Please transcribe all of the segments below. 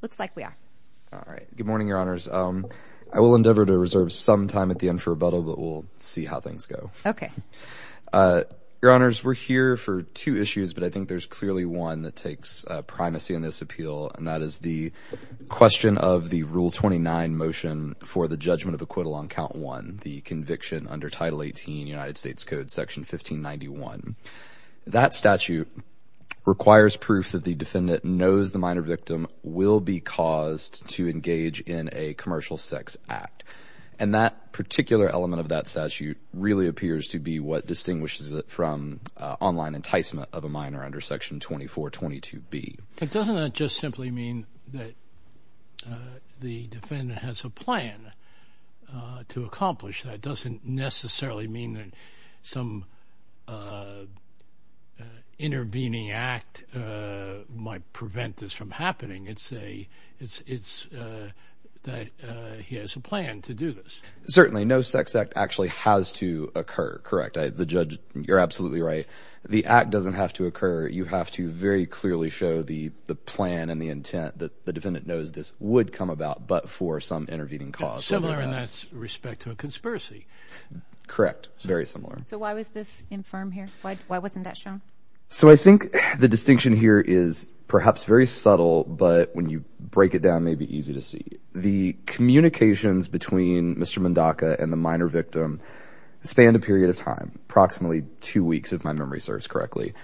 looks like we are all right good morning your honors um i will endeavor to reserve some time at the end for rebuttal but we'll see how things go okay uh your honors we're here for two issues but i think there's clearly one that takes primacy in this appeal and that is the question of the rule 29 motion for the judgment of acquittal on count one the conviction under title 18 united states code section 1591 that statute requires proof that the defendant knows the minor victim will be caused to engage in a commercial sex act and that particular element of that statute really appears to be what distinguishes it from online enticement of a minor under section 24 22b it doesn't just simply mean that the defendant has a plan to accomplish that doesn't necessarily mean that some uh intervening act uh might prevent this from happening it's a it's it's uh that uh he has a plan to do this certainly no sex act actually has to occur correct the judge you're absolutely right the act doesn't have to occur you have to very clearly show the the plan and the intent that the defendant knows this would come about but for some intervening cause similar in that respect to a conspiracy correct very similar so why was this infirm here why why wasn't that shown so i think the distinction here is perhaps very subtle but when you break it down may be easy to see the communications between mr mendoca and the minor victim spanned a period of time approximately two weeks if my memory serves correctly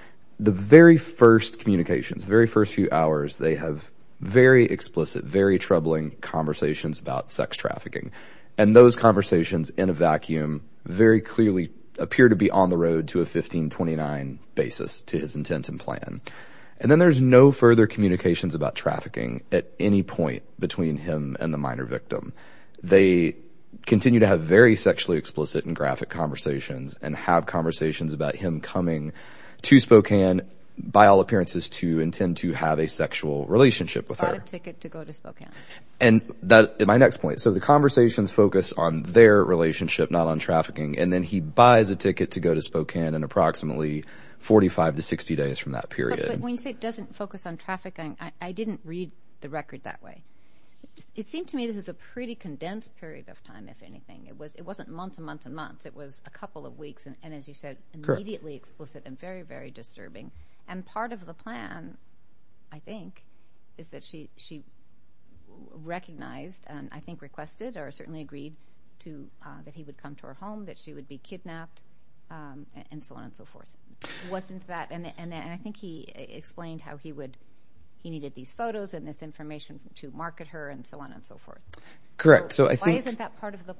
the very first communications very first hours they have very explicit very troubling conversations about sex trafficking and those conversations in a vacuum very clearly appear to be on the road to a 1529 basis to his intent and plan and then there's no further communications about trafficking at any point between him and the minor victim they continue to have very sexually explicit and graphic conversations and have conversations about him coming to spokane by all appearances to intend to have a sexual relationship with her ticket to go to spokane and that my next point so the conversations focus on their relationship not on trafficking and then he buys a ticket to go to spokane in approximately 45 to 60 days from that period when you say it doesn't focus on trafficking i didn't read the record that way it seemed to me this is a pretty condensed period of time if anything it it wasn't months and months and months it was a couple of weeks and as you said immediately explicit and very very disturbing and part of the plan i think is that she she recognized and i think requested or certainly agreed to uh that he would come to her home that she would be kidnapped um and so on and so forth wasn't that and and i think he explained how he would he needed these photos and this information to market her and so on and so forth correct so i think isn't that part of the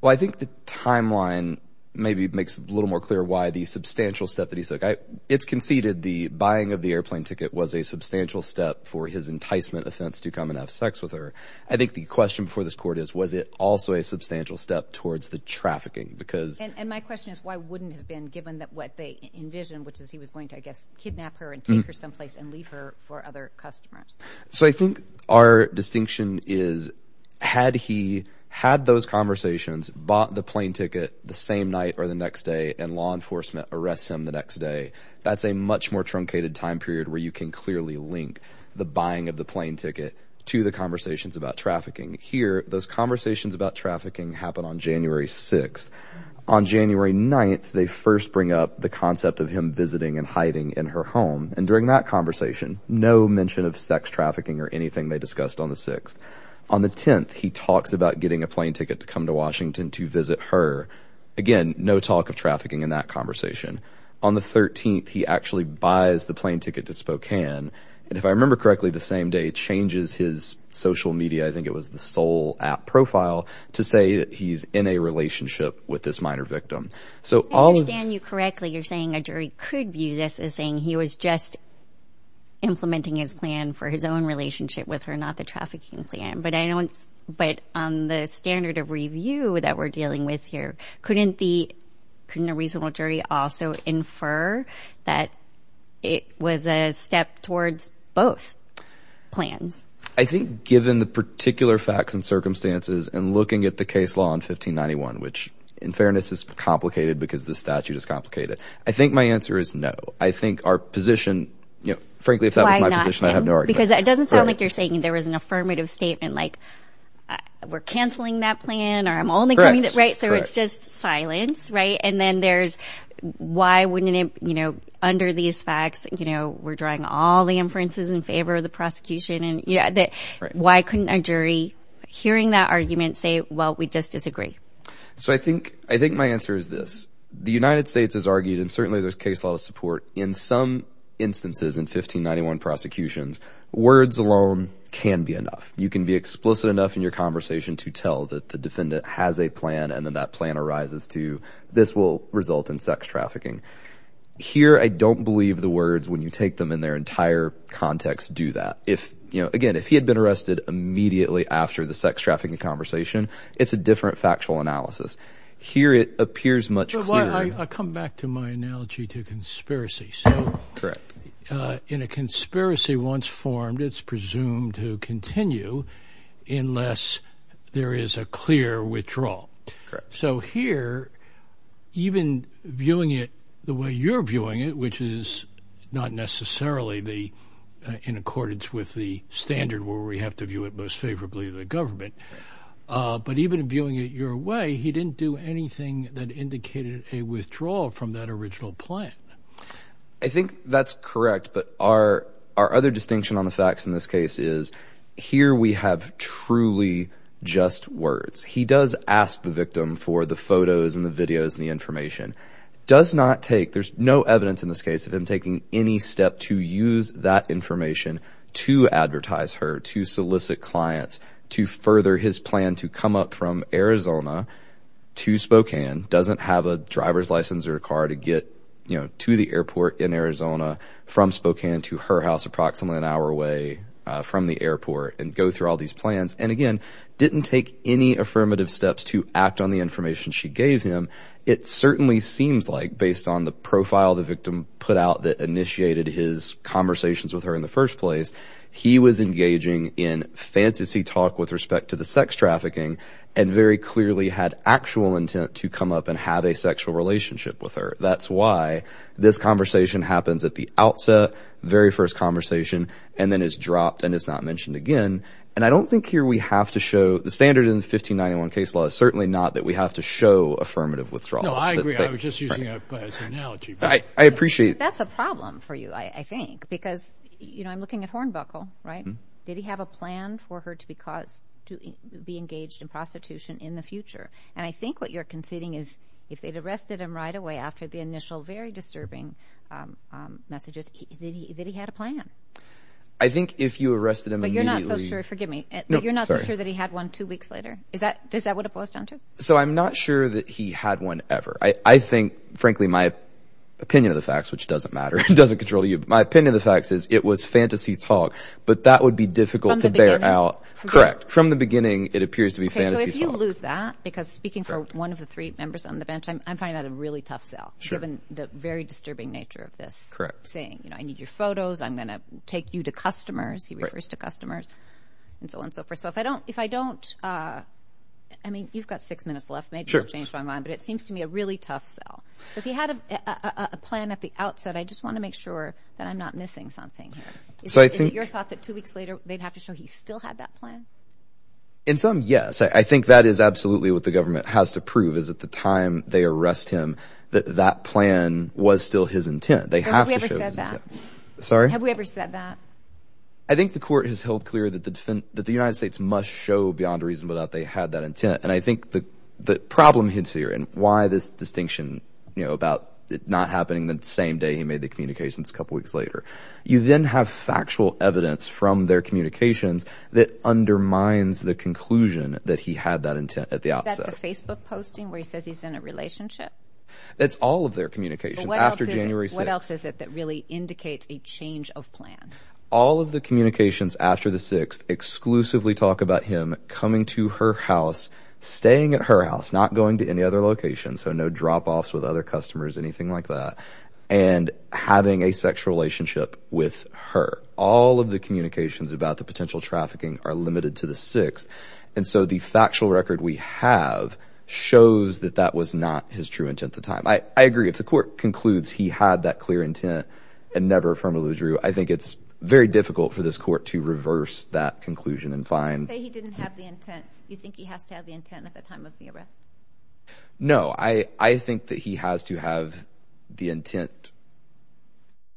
well i think the timeline maybe makes a little more clear why the substantial step that he said it's conceded the buying of the airplane ticket was a substantial step for his enticement offense to come and have sex with her i think the question before this court is was it also a substantial step towards the trafficking because and my question is why wouldn't have been given that what they envisioned which is he was going to i guess kidnap her and take her someplace and for other customers so i think our distinction is had he had those conversations bought the plane ticket the same night or the next day and law enforcement arrests him the next day that's a much more truncated time period where you can clearly link the buying of the plane ticket to the conversations about trafficking here those conversations about trafficking happen on january 6th on january 9th they first bring up the concept of him visiting and hiding in her home and during that conversation no mention of sex trafficking or anything they discussed on the 6th on the 10th he talks about getting a plane ticket to come to washington to visit her again no talk of trafficking in that conversation on the 13th he actually buys the plane ticket to spokane and if i remember correctly the same day changes his social media i think it was the sole app profile to say that he's in a relationship with this minor victim so i understand you correctly you're saying a jury could view this as saying he was just implementing his plan for his own relationship with her not the trafficking plan but i don't but on the standard of review that we're dealing with here couldn't the couldn't a reasonable jury also infer that it was a step towards both plans i think given the particular facts and circumstances and looking at the case law in 1591 which in fairness is complicated because the statute is complicated i think my answer is no i think our position you know frankly if that was my position i have no argument because it doesn't sound like you're saying there was an affirmative statement like we're canceling that plan or i'm only coming right so it's just silence right and then there's why wouldn't it you know under these facts you know we're drawing all the inferences in favor of the prosecution and yeah that why couldn't a jury hearing that argument say well we just disagree so i think i think my answer is this the united states has argued and certainly there's case law support in some instances in 1591 prosecutions words alone can be enough you can be explicit enough in your conversation to tell that the defendant has a plan and then that plan arises to this will result in sex trafficking here i don't believe the words when you take them in their entire context do that if you know again if he been arrested immediately after the sex trafficking conversation it's a different factual analysis here it appears much i come back to my analogy to conspiracy so correct in a conspiracy once formed it's presumed to continue unless there is a clear withdrawal so here even viewing it way you're viewing it which is not necessarily the in accordance with the standard where we have to view it most favorably the government uh but even viewing it your way he didn't do anything that indicated a withdrawal from that original plan i think that's correct but our our other distinction on the facts in this case is here we have truly just words he does ask the victim for the photos and the videos and the information does not take there's no evidence in this case of him taking any step to use that information to advertise her to solicit clients to further his plan to come up from arizona to spokane doesn't have a driver's license or a car to get you know to the airport in arizona from spokane to her house approximately an hour away from the airport and go through all these plans and again didn't take any affirmative steps to act on the information she gave him it certainly seems like based on the profile the victim put out that initiated his conversations with her in the first place he was engaging in fantasy talk with respect to the sex trafficking and very clearly had actual intent to come up and have a sexual relationship with her that's why this conversation happens at the outset very first conversation and then is dropped and it's not mentioned again and i don't think here we have to show the standard in the 1591 case law is certainly not that we have to show affirmative withdrawal i agree i was just using an analogy i appreciate that's a problem for you i think because you know i'm looking at hornbuckle right did he have a plan for her to be caused to be engaged in prostitution in the future and i think what you're conceding is if they'd arrested him right away after the initial very disturbing um messages that he had a plan i think if you arrested him but you're not so sure forgive me but you're not so sure that he had one two weeks later is that does that what it boils down to so i'm not sure that he had one ever i i think frankly my opinion of the facts which doesn't matter it doesn't control you my opinion of the facts is it was fantasy talk but that would be difficult to bear out correct from the beginning it appears to be fantasy if you lose that because speaking for one of the three members on the bench i'm finding that a really tough sale given the very disturbing nature of this correct saying you know i need your photos i'm gonna take you refers to customers and so on so forth so if i don't if i don't uh i mean you've got six minutes left maybe i'll change my mind but it seems to me a really tough sell so if he had a a plan at the outset i just want to make sure that i'm not missing something here so i think your thought that two weeks later they'd have to show he still had that plan in some yes i think that is absolutely what the government has to prove is at the time they arrest him that that plan was still his intent they have to show that sorry have we ever said that i think the court has held clear that the defense that the united states must show beyond a reason but that they had that intent and i think the the problem hits here and why this distinction you know about it not happening the same day he made the communications a couple weeks later you then have factual evidence from their communications that undermines the conclusion that he had that intent at the outset facebook posting where he says he's in a relationship that's all of their communications after january six what else is it that really indicates a change of plan all of the communications after the sixth exclusively talk about him coming to her house staying at her house not going to any other location so no drop-offs with other customers anything like that and having a sexual relationship with her all of the communications about the potential trafficking are limited to the sixth and so the factual record we have shows that that was not his true intent at the time i agree if the court concludes he had that clear intent and never affirmably drew i think it's very difficult for this court to reverse that conclusion and find say he didn't have the intent you think he has to have the intent at the time of the arrest no i i think that he has to have the intent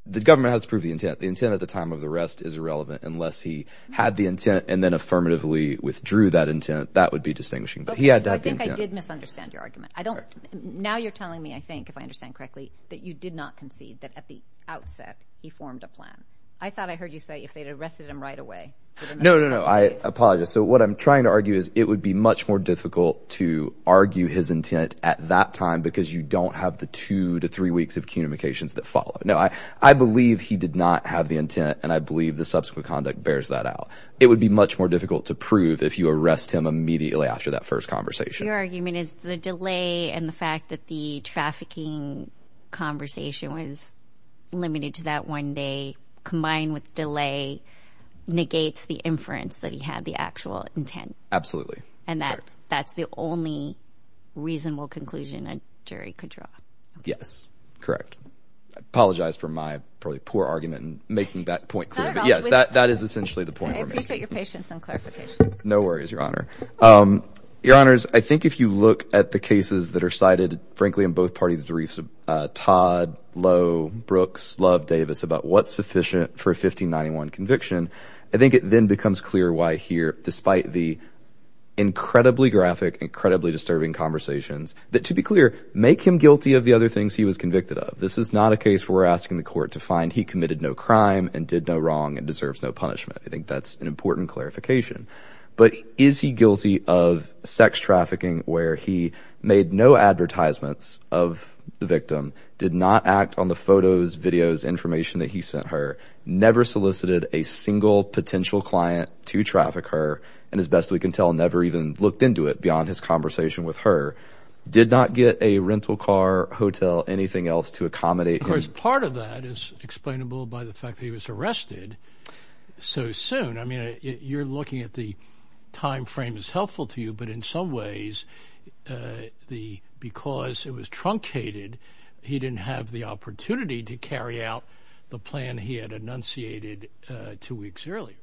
the government has to prove the intent the intent at the time of the arrest is irrelevant unless he had the intent and then affirmatively withdrew that intent that would be distinguishing but he had i think i did misunderstand your argument i don't now you're telling me i think if i understand correctly that you did not concede that at the outset he formed a plan i thought i heard you say if they'd arrested him right away no no i apologize so what i'm trying to argue is it would be much more difficult to argue his intent at that time because you don't have the two to three weeks of communications that follow no i i believe he did not have the intent and i believe the subsequent conduct bears that out it would be much more difficult to prove if you arrest him immediately after that first conversation your argument is the delay and the fact that the trafficking conversation was limited to that one day combined with delay negates the inference that he had the actual intent absolutely and that that's the only reasonable conclusion a jury could draw yes correct i apologize for my probably poor argument and making that point clear but yes that that is essentially the point i appreciate your patience and clarification no worries your honor um your honors i think if you look at the cases that are cited frankly in both parties the reefs uh todd low brooks love davis about what's sufficient for a 1591 conviction i think it then becomes clear why here despite the incredibly graphic incredibly disturbing conversations that to be clear make him guilty of the other things he was convicted of this is not a case where we're asking the court to find he committed no crime and did no wrong and deserves no punishment i think that's an important clarification but is he guilty of sex trafficking where he made no advertisements of the victim did not act on the photos videos information that he sent her never solicited a single potential client to traffic her and as best we can tell never even looked into it beyond his conversation with her did not get a rental car hotel anything else to accommodate of course part of that is explainable by the fact that he was arrested so soon i mean you're looking at the time frame is helpful to you but in some ways uh the because it was truncated he didn't have the opportunity to carry out the plan he had enunciated uh two weeks earlier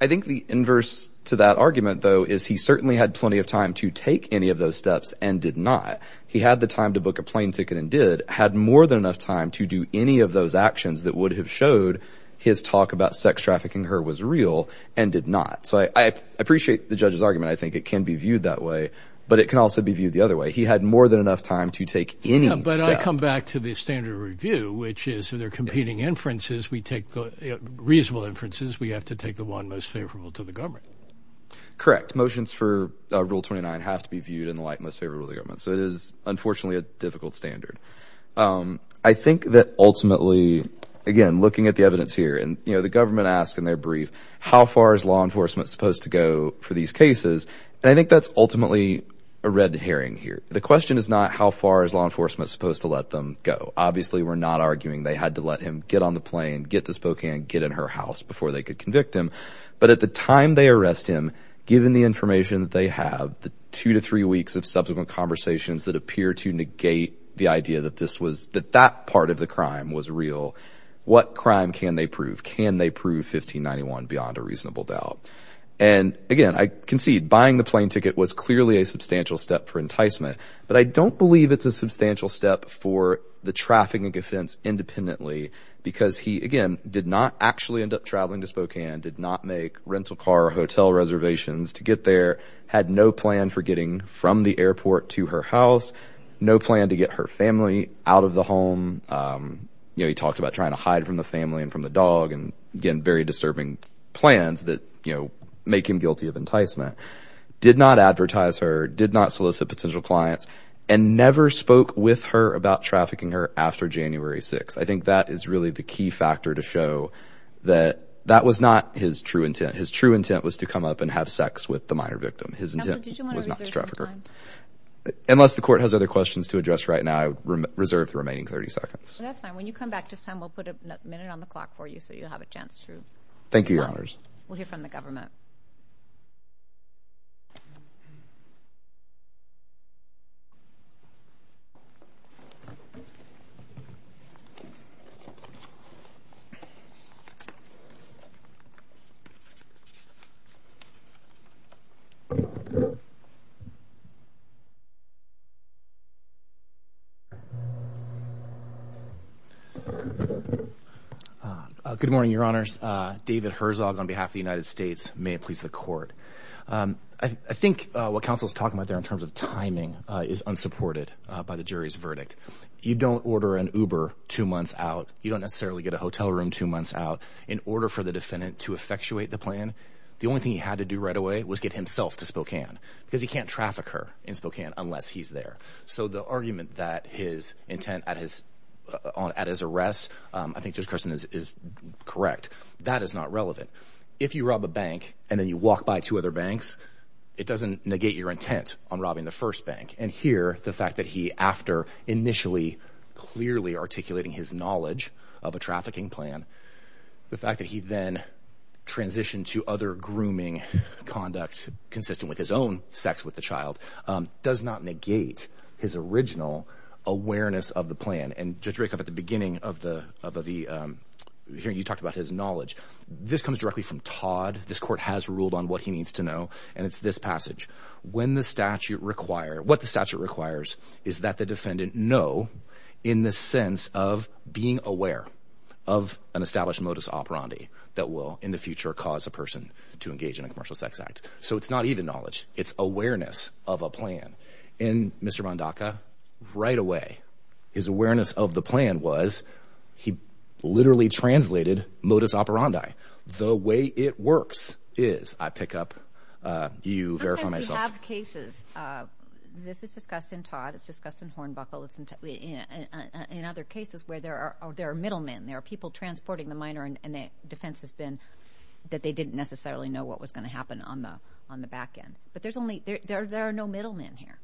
i think the inverse to that argument though is he certainly had plenty of time to take any of those steps and did not he had the time to book a plane ticket and did had more than enough time to do any of those actions that would have showed his talk about sex trafficking her was real and did not so i i appreciate the judge's argument i think it can be viewed that way but it can also be viewed the other way he had more than enough time to take any but i come back to the standard review which is if they're competing inferences we take reasonable inferences we have to take the one most favorable to the government correct motions for rule 29 have to be viewed in the light most favorable the government so it is unfortunately a difficult standard um i think that ultimately again looking at the evidence here and you know the government asked in their brief how far is law enforcement supposed to go for these cases and i think that's ultimately a red herring here the question is not how far is law enforcement supposed to let them go obviously we're not arguing they had to let him get on the plane get to spokane get in her house before they could convict him but at the time they arrest him given the information that they have the two to three weeks of subsequent conversations that appear to negate the idea that this was that that part of the crime was real what crime can they prove can they prove 1591 beyond a reasonable doubt and again i concede buying the plane ticket was clearly a substantial step for enticement but i don't believe it's a substantial step for the trafficking offense independently because he again did not actually end up traveling to spokane did not make rental car or hotel reservations to get there had no plan for getting from the airport to her house no plan to get her family out of the home um you know he talked about trying to hide from the family and from the dog and again very disturbing plans that you know make him guilty of enticement did not advertise her did not solicit potential clients and never spoke with her about trafficking her after january 6 i think that is really the key factor to show that that was not his true intent his true intent was to come up and have sex with the minor victim his intent was not to traffic her unless the court has other questions to address right now i reserve the remaining 30 seconds that's fine when you come back just time we'll put a minute on the clock for you so you'll have a chance to thank you your honors we'll hear from the government uh good morning your honors uh david herzog on behalf of the united states may it please the court um i think what council is talking about there in terms of timing is unsupported by the jury's verdict you don't order an uber two months out you don't necessarily get a hotel room two out in order for the defendant to effectuate the plan the only thing he had to do right away was get himself to spokane because he can't traffic her in spokane unless he's there so the argument that his intent at his on at his arrest i think just christian is correct that is not relevant if you rob a bank and then you walk by two other banks it doesn't negate your intent on robbing the first bank and here the fact that he after initially clearly articulating his knowledge of a trafficking plan the fact that he then transitioned to other grooming conduct consistent with his own sex with the child does not negate his original awareness of the plan and judge rake up at the beginning of the of the um here you talked about his knowledge this comes directly from todd this court has ruled on what he needs to know and it's this passage when the statute require what the statute requires is that the defendant know in the sense of being aware of an established modus operandi that will in the future cause a person to engage in a commercial sex act so it's not even knowledge it's awareness of a plan in mr bondaka right away his awareness of the plan was he literally translated modus operandi the way it works is i pick up uh you have cases uh this is discussed in todd it's discussed in hornbuckle it's in in other cases where there are there are middlemen there are people transporting the minor and the defense has been that they didn't necessarily know what was going to happen on the on the back end but there's only there there are no middlemen here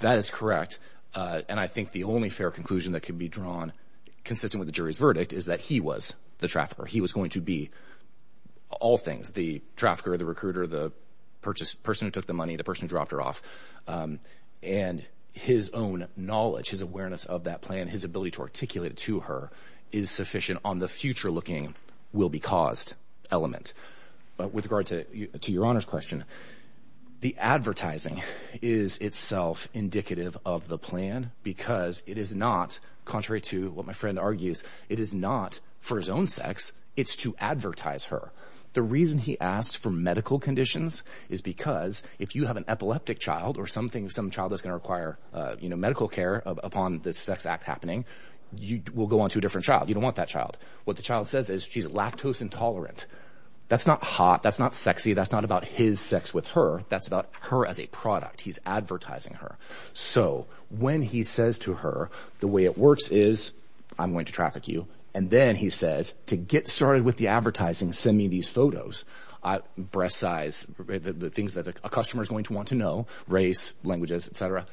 that is correct uh and i think the only fair conclusion that can be drawn consistent with the jury's verdict is that he was the trafficker he was going to be all things the trafficker the recruiter the purchase person who took the money the person who dropped her off um and his own knowledge his awareness of that plan his ability to articulate it to her is sufficient on the future looking will be caused element but with regard to to your honor's question the advertising is itself indicative of the plan because it is not contrary to what my friend argues it is not for his own sex it's to advertise her the reason he asked for medical conditions is because if you have an epileptic child or something some child is going to require uh you know medical care upon this sex act happening you will go on to a different child you don't want that child what the child says is she's lactose intolerant that's not hot that's not sexy that's not about his sex with her that's about her as a product he's advertising her so when he says to her the way it works is i'm going to traffic you and then he says to get started with the advertising send me these photos i breast size the things that a customer is going to want to know race languages etc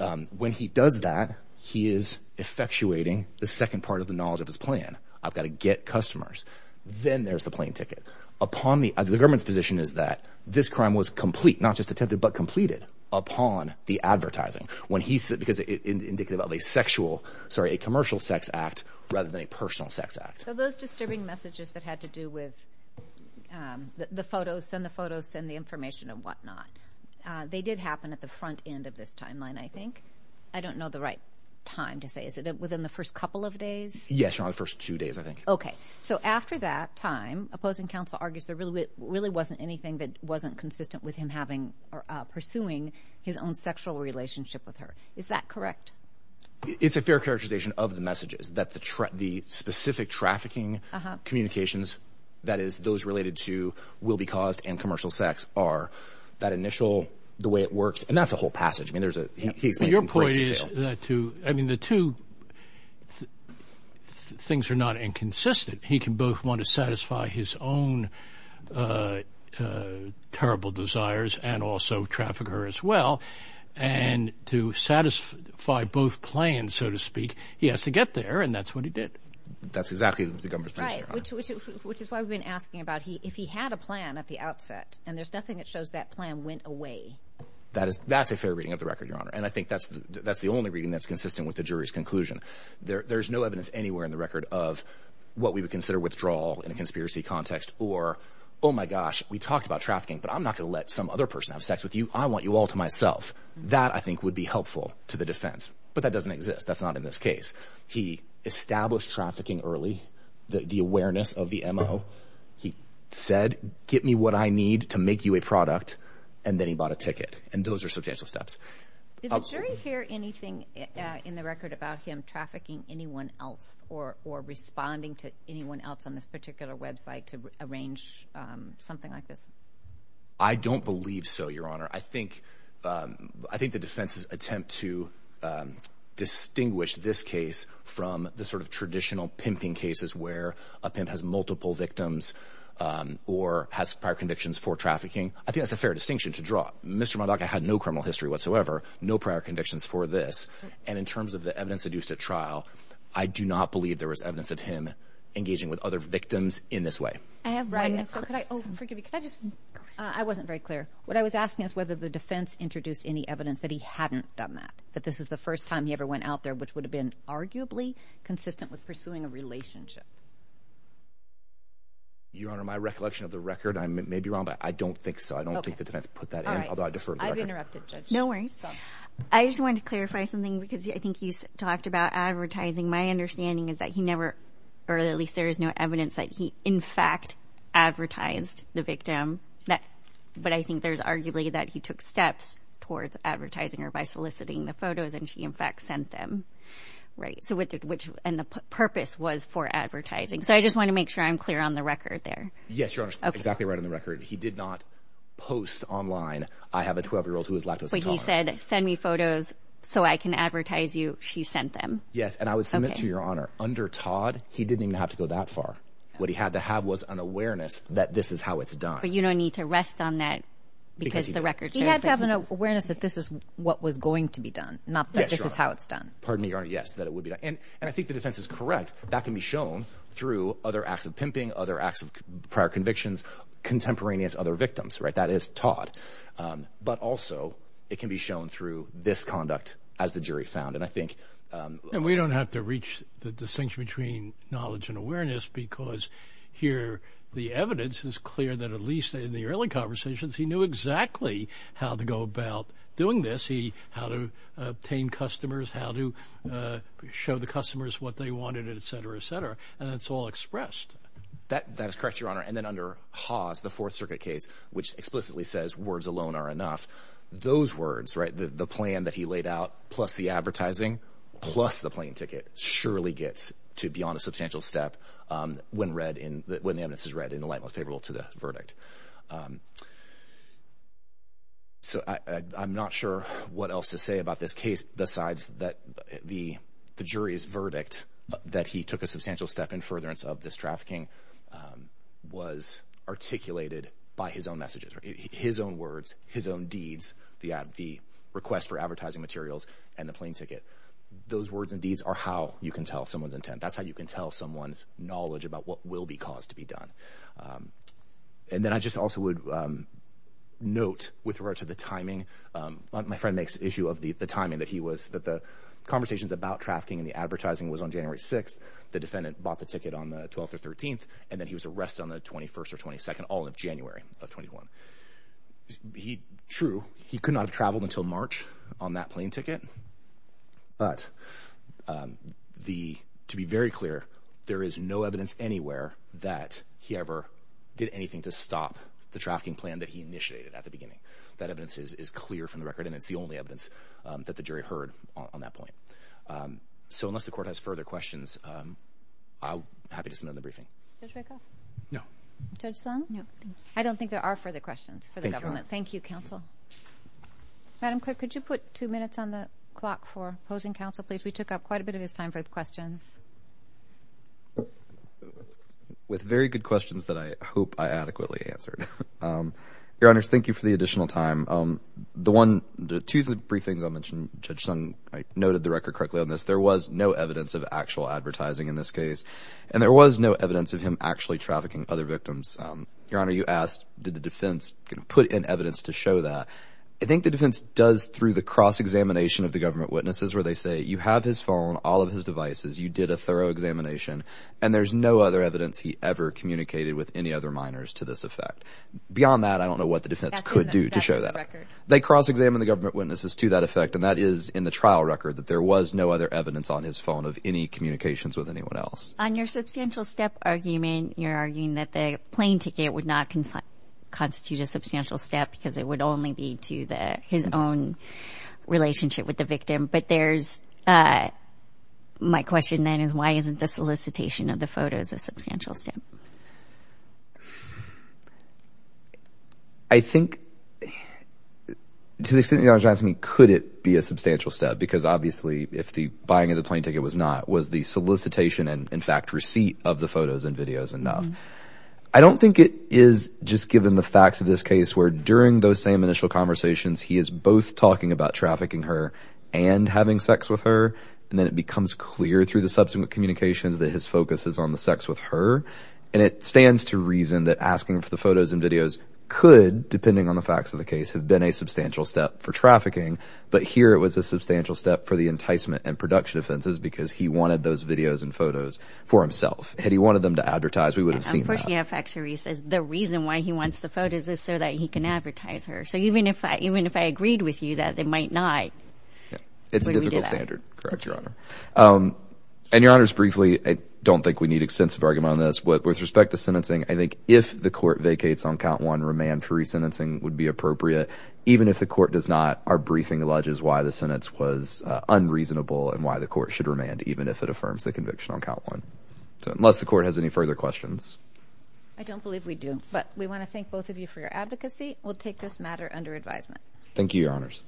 um when he does that he is effectuating the second part of the knowledge of his plan i've got to get customers then there's the plane ticket upon the government's is that this crime was complete not just attempted but completed upon the advertising when he said because indicative of a sexual sorry a commercial sex act rather than a personal sex act so those disturbing messages that had to do with um the photos and the photos and the information and whatnot uh they did happen at the front end of this timeline i think i don't know the right time to say is it within the first couple of days yes or the first two days i think okay so after that time opposing counsel argues there really really wasn't anything that wasn't consistent with him having or pursuing his own sexual relationship with her is that correct it's a fair characterization of the messages that the threat the specific trafficking communications that is those related to will be caused and commercial sex are that initial the way it works and that's the whole passage i mean there's a your point is that too i mean the two things are not inconsistent he can both want to satisfy his own uh uh terrible desires and also traffic her as well and to satisfy both plans so to speak he has to get there and that's what he did that's exactly what the government which is why we've been asking about he if he had a plan at the outset and there's nothing that shows that plan went away that is that's a fair reading of the record your honor and i think that's that's the only reading that's consistent with the jury's conclusion there there's no evidence anywhere in the record of what we would consider withdrawal in a conspiracy context or oh my gosh we talked about trafficking but i'm not going to let some other person have sex with you i want you all to myself that i think would be helpful to the defense but that doesn't exist that's not in this case he established trafficking early the awareness of the mo he said get me what i need to make you a product and then he bought a ticket and those are did the jury hear anything uh in the record about him trafficking anyone else or or responding to anyone else on this particular website to arrange um something like this i don't believe so your honor i think um i think the defense's attempt to um distinguish this case from the sort of traditional pimping cases where a pimp has multiple victims um or has prior convictions for trafficking i think that's a fair distinction to draw mr mcduck i had no criminal history whatsoever no prior convictions for this and in terms of the evidence induced at trial i do not believe there was evidence of him engaging with other victims in this way i have i wasn't very clear what i was asking is whether the defense introduced any evidence that he hadn't done that that this is the first time he ever went out there which would have been arguably consistent with pursuing a relationship your honor my recollection of the record i may be i don't think so i don't think the defense put that in although i defer i've interrupted no worries i just wanted to clarify something because i think he's talked about advertising my understanding is that he never or at least there is no evidence that he in fact advertised the victim that but i think there's arguably that he took steps towards advertising her by soliciting the photos and she in fact sent them right so what did which and the purpose was for advertising so i just want to make sure i'm clear on the record there yes your honor exactly right he did not post online i have a 12 year old who is lactose intolerant he said send me photos so i can advertise you she sent them yes and i would submit to your honor under todd he didn't even have to go that far what he had to have was an awareness that this is how it's done but you don't need to rest on that because the record he had to have an awareness that this is what was going to be done not that this is how it's done pardon me your honor yes that it would be and and i think the defense is correct that can be shown through other acts of pimping other acts prior convictions contemporaneous other victims right that is todd but also it can be shown through this conduct as the jury found and i think and we don't have to reach the distinction between knowledge and awareness because here the evidence is clear that at least in the early conversations he knew exactly how to go about doing this he how to obtain customers how to show the customers what they wanted etc etc and it's all expressed that that is correct your honor and then under haas the fourth circuit case which explicitly says words alone are enough those words right the the plan that he laid out plus the advertising plus the plane ticket surely gets to beyond a substantial step um when read in when the evidence is read in the light most favorable to the verdict um so i i'm not sure what else to say about this case besides that the the jury's verdict that he took a substantial step in furtherance of this trafficking was articulated by his own messages his own words his own deeds the ad the request for advertising materials and the plane ticket those words and deeds are how you can tell someone's intent that's how you can tell someone's knowledge about what will be caused to be done and then i just also would um note with regard to the timing um my friend makes issue of the timing that he was that the conversations about trafficking and the advertising was on january 6th the defendant bought the ticket on the 12th or 13th and then he was arrested on the 21st or 22nd all of january of 21 he true he could not have traveled until march on that plane ticket but um the to be very clear there is no evidence anywhere that he ever did anything to stop the trafficking plan that he initiated at the beginning that evidence is clear from the evidence um that the jury heard on that point um so unless the court has further questions um i'll happy to send in the briefing no judge sun no i don't think there are further questions for the government thank you counsel madam quick could you put two minutes on the clock for opposing counsel please we took up quite a bit of his time for the questions with very good questions that i hope i adequately answered um your honors thank you for the briefings i'll mention judge sung i noted the record correctly on this there was no evidence of actual advertising in this case and there was no evidence of him actually trafficking other victims um your honor you asked did the defense put in evidence to show that i think the defense does through the cross examination of the government witnesses where they say you have his phone all of his devices you did a thorough examination and there's no other evidence he ever communicated with any other minors to this effect beyond that i don't know what the defense could do to show that record they cross-examine the government witnesses to that effect and that is in the trial record that there was no other evidence on his phone of any communications with anyone else on your substantial step argument you're arguing that the plane ticket would not constitute a substantial step because it would only be to the his own relationship with the victim but there's uh my question then is why isn't the solicitation of the photos a substantial step i think to the extent you're asking me could it be a substantial step because obviously if the buying of the plane ticket was not was the solicitation and in fact receipt of the photos and videos enough i don't think it is just given the facts of this case where during those same initial conversations he is both talking about trafficking her and having sex with her and then becomes clear through the subsequent communications that his focus is on the sex with her and it stands to reason that asking for the photos and videos could depending on the facts of the case have been a substantial step for trafficking but here it was a substantial step for the enticement and production offenses because he wanted those videos and photos for himself had he wanted them to advertise we would have seen the reason why he wants the photos is so that he can advertise her so even if i even if i agreed with you that they might not it's a difficult standard correct your honor um and your honors briefly i don't think we need extensive argument on this but with respect to sentencing i think if the court vacates on count one remand for resentencing would be appropriate even if the court does not our briefing alleges why the sentence was unreasonable and why the court should remand even if it affirms the conviction on count one so unless the court has any further questions i don't believe we do but we want to thank both of you for your advocacy we'll take this matter under advisement thank you your honors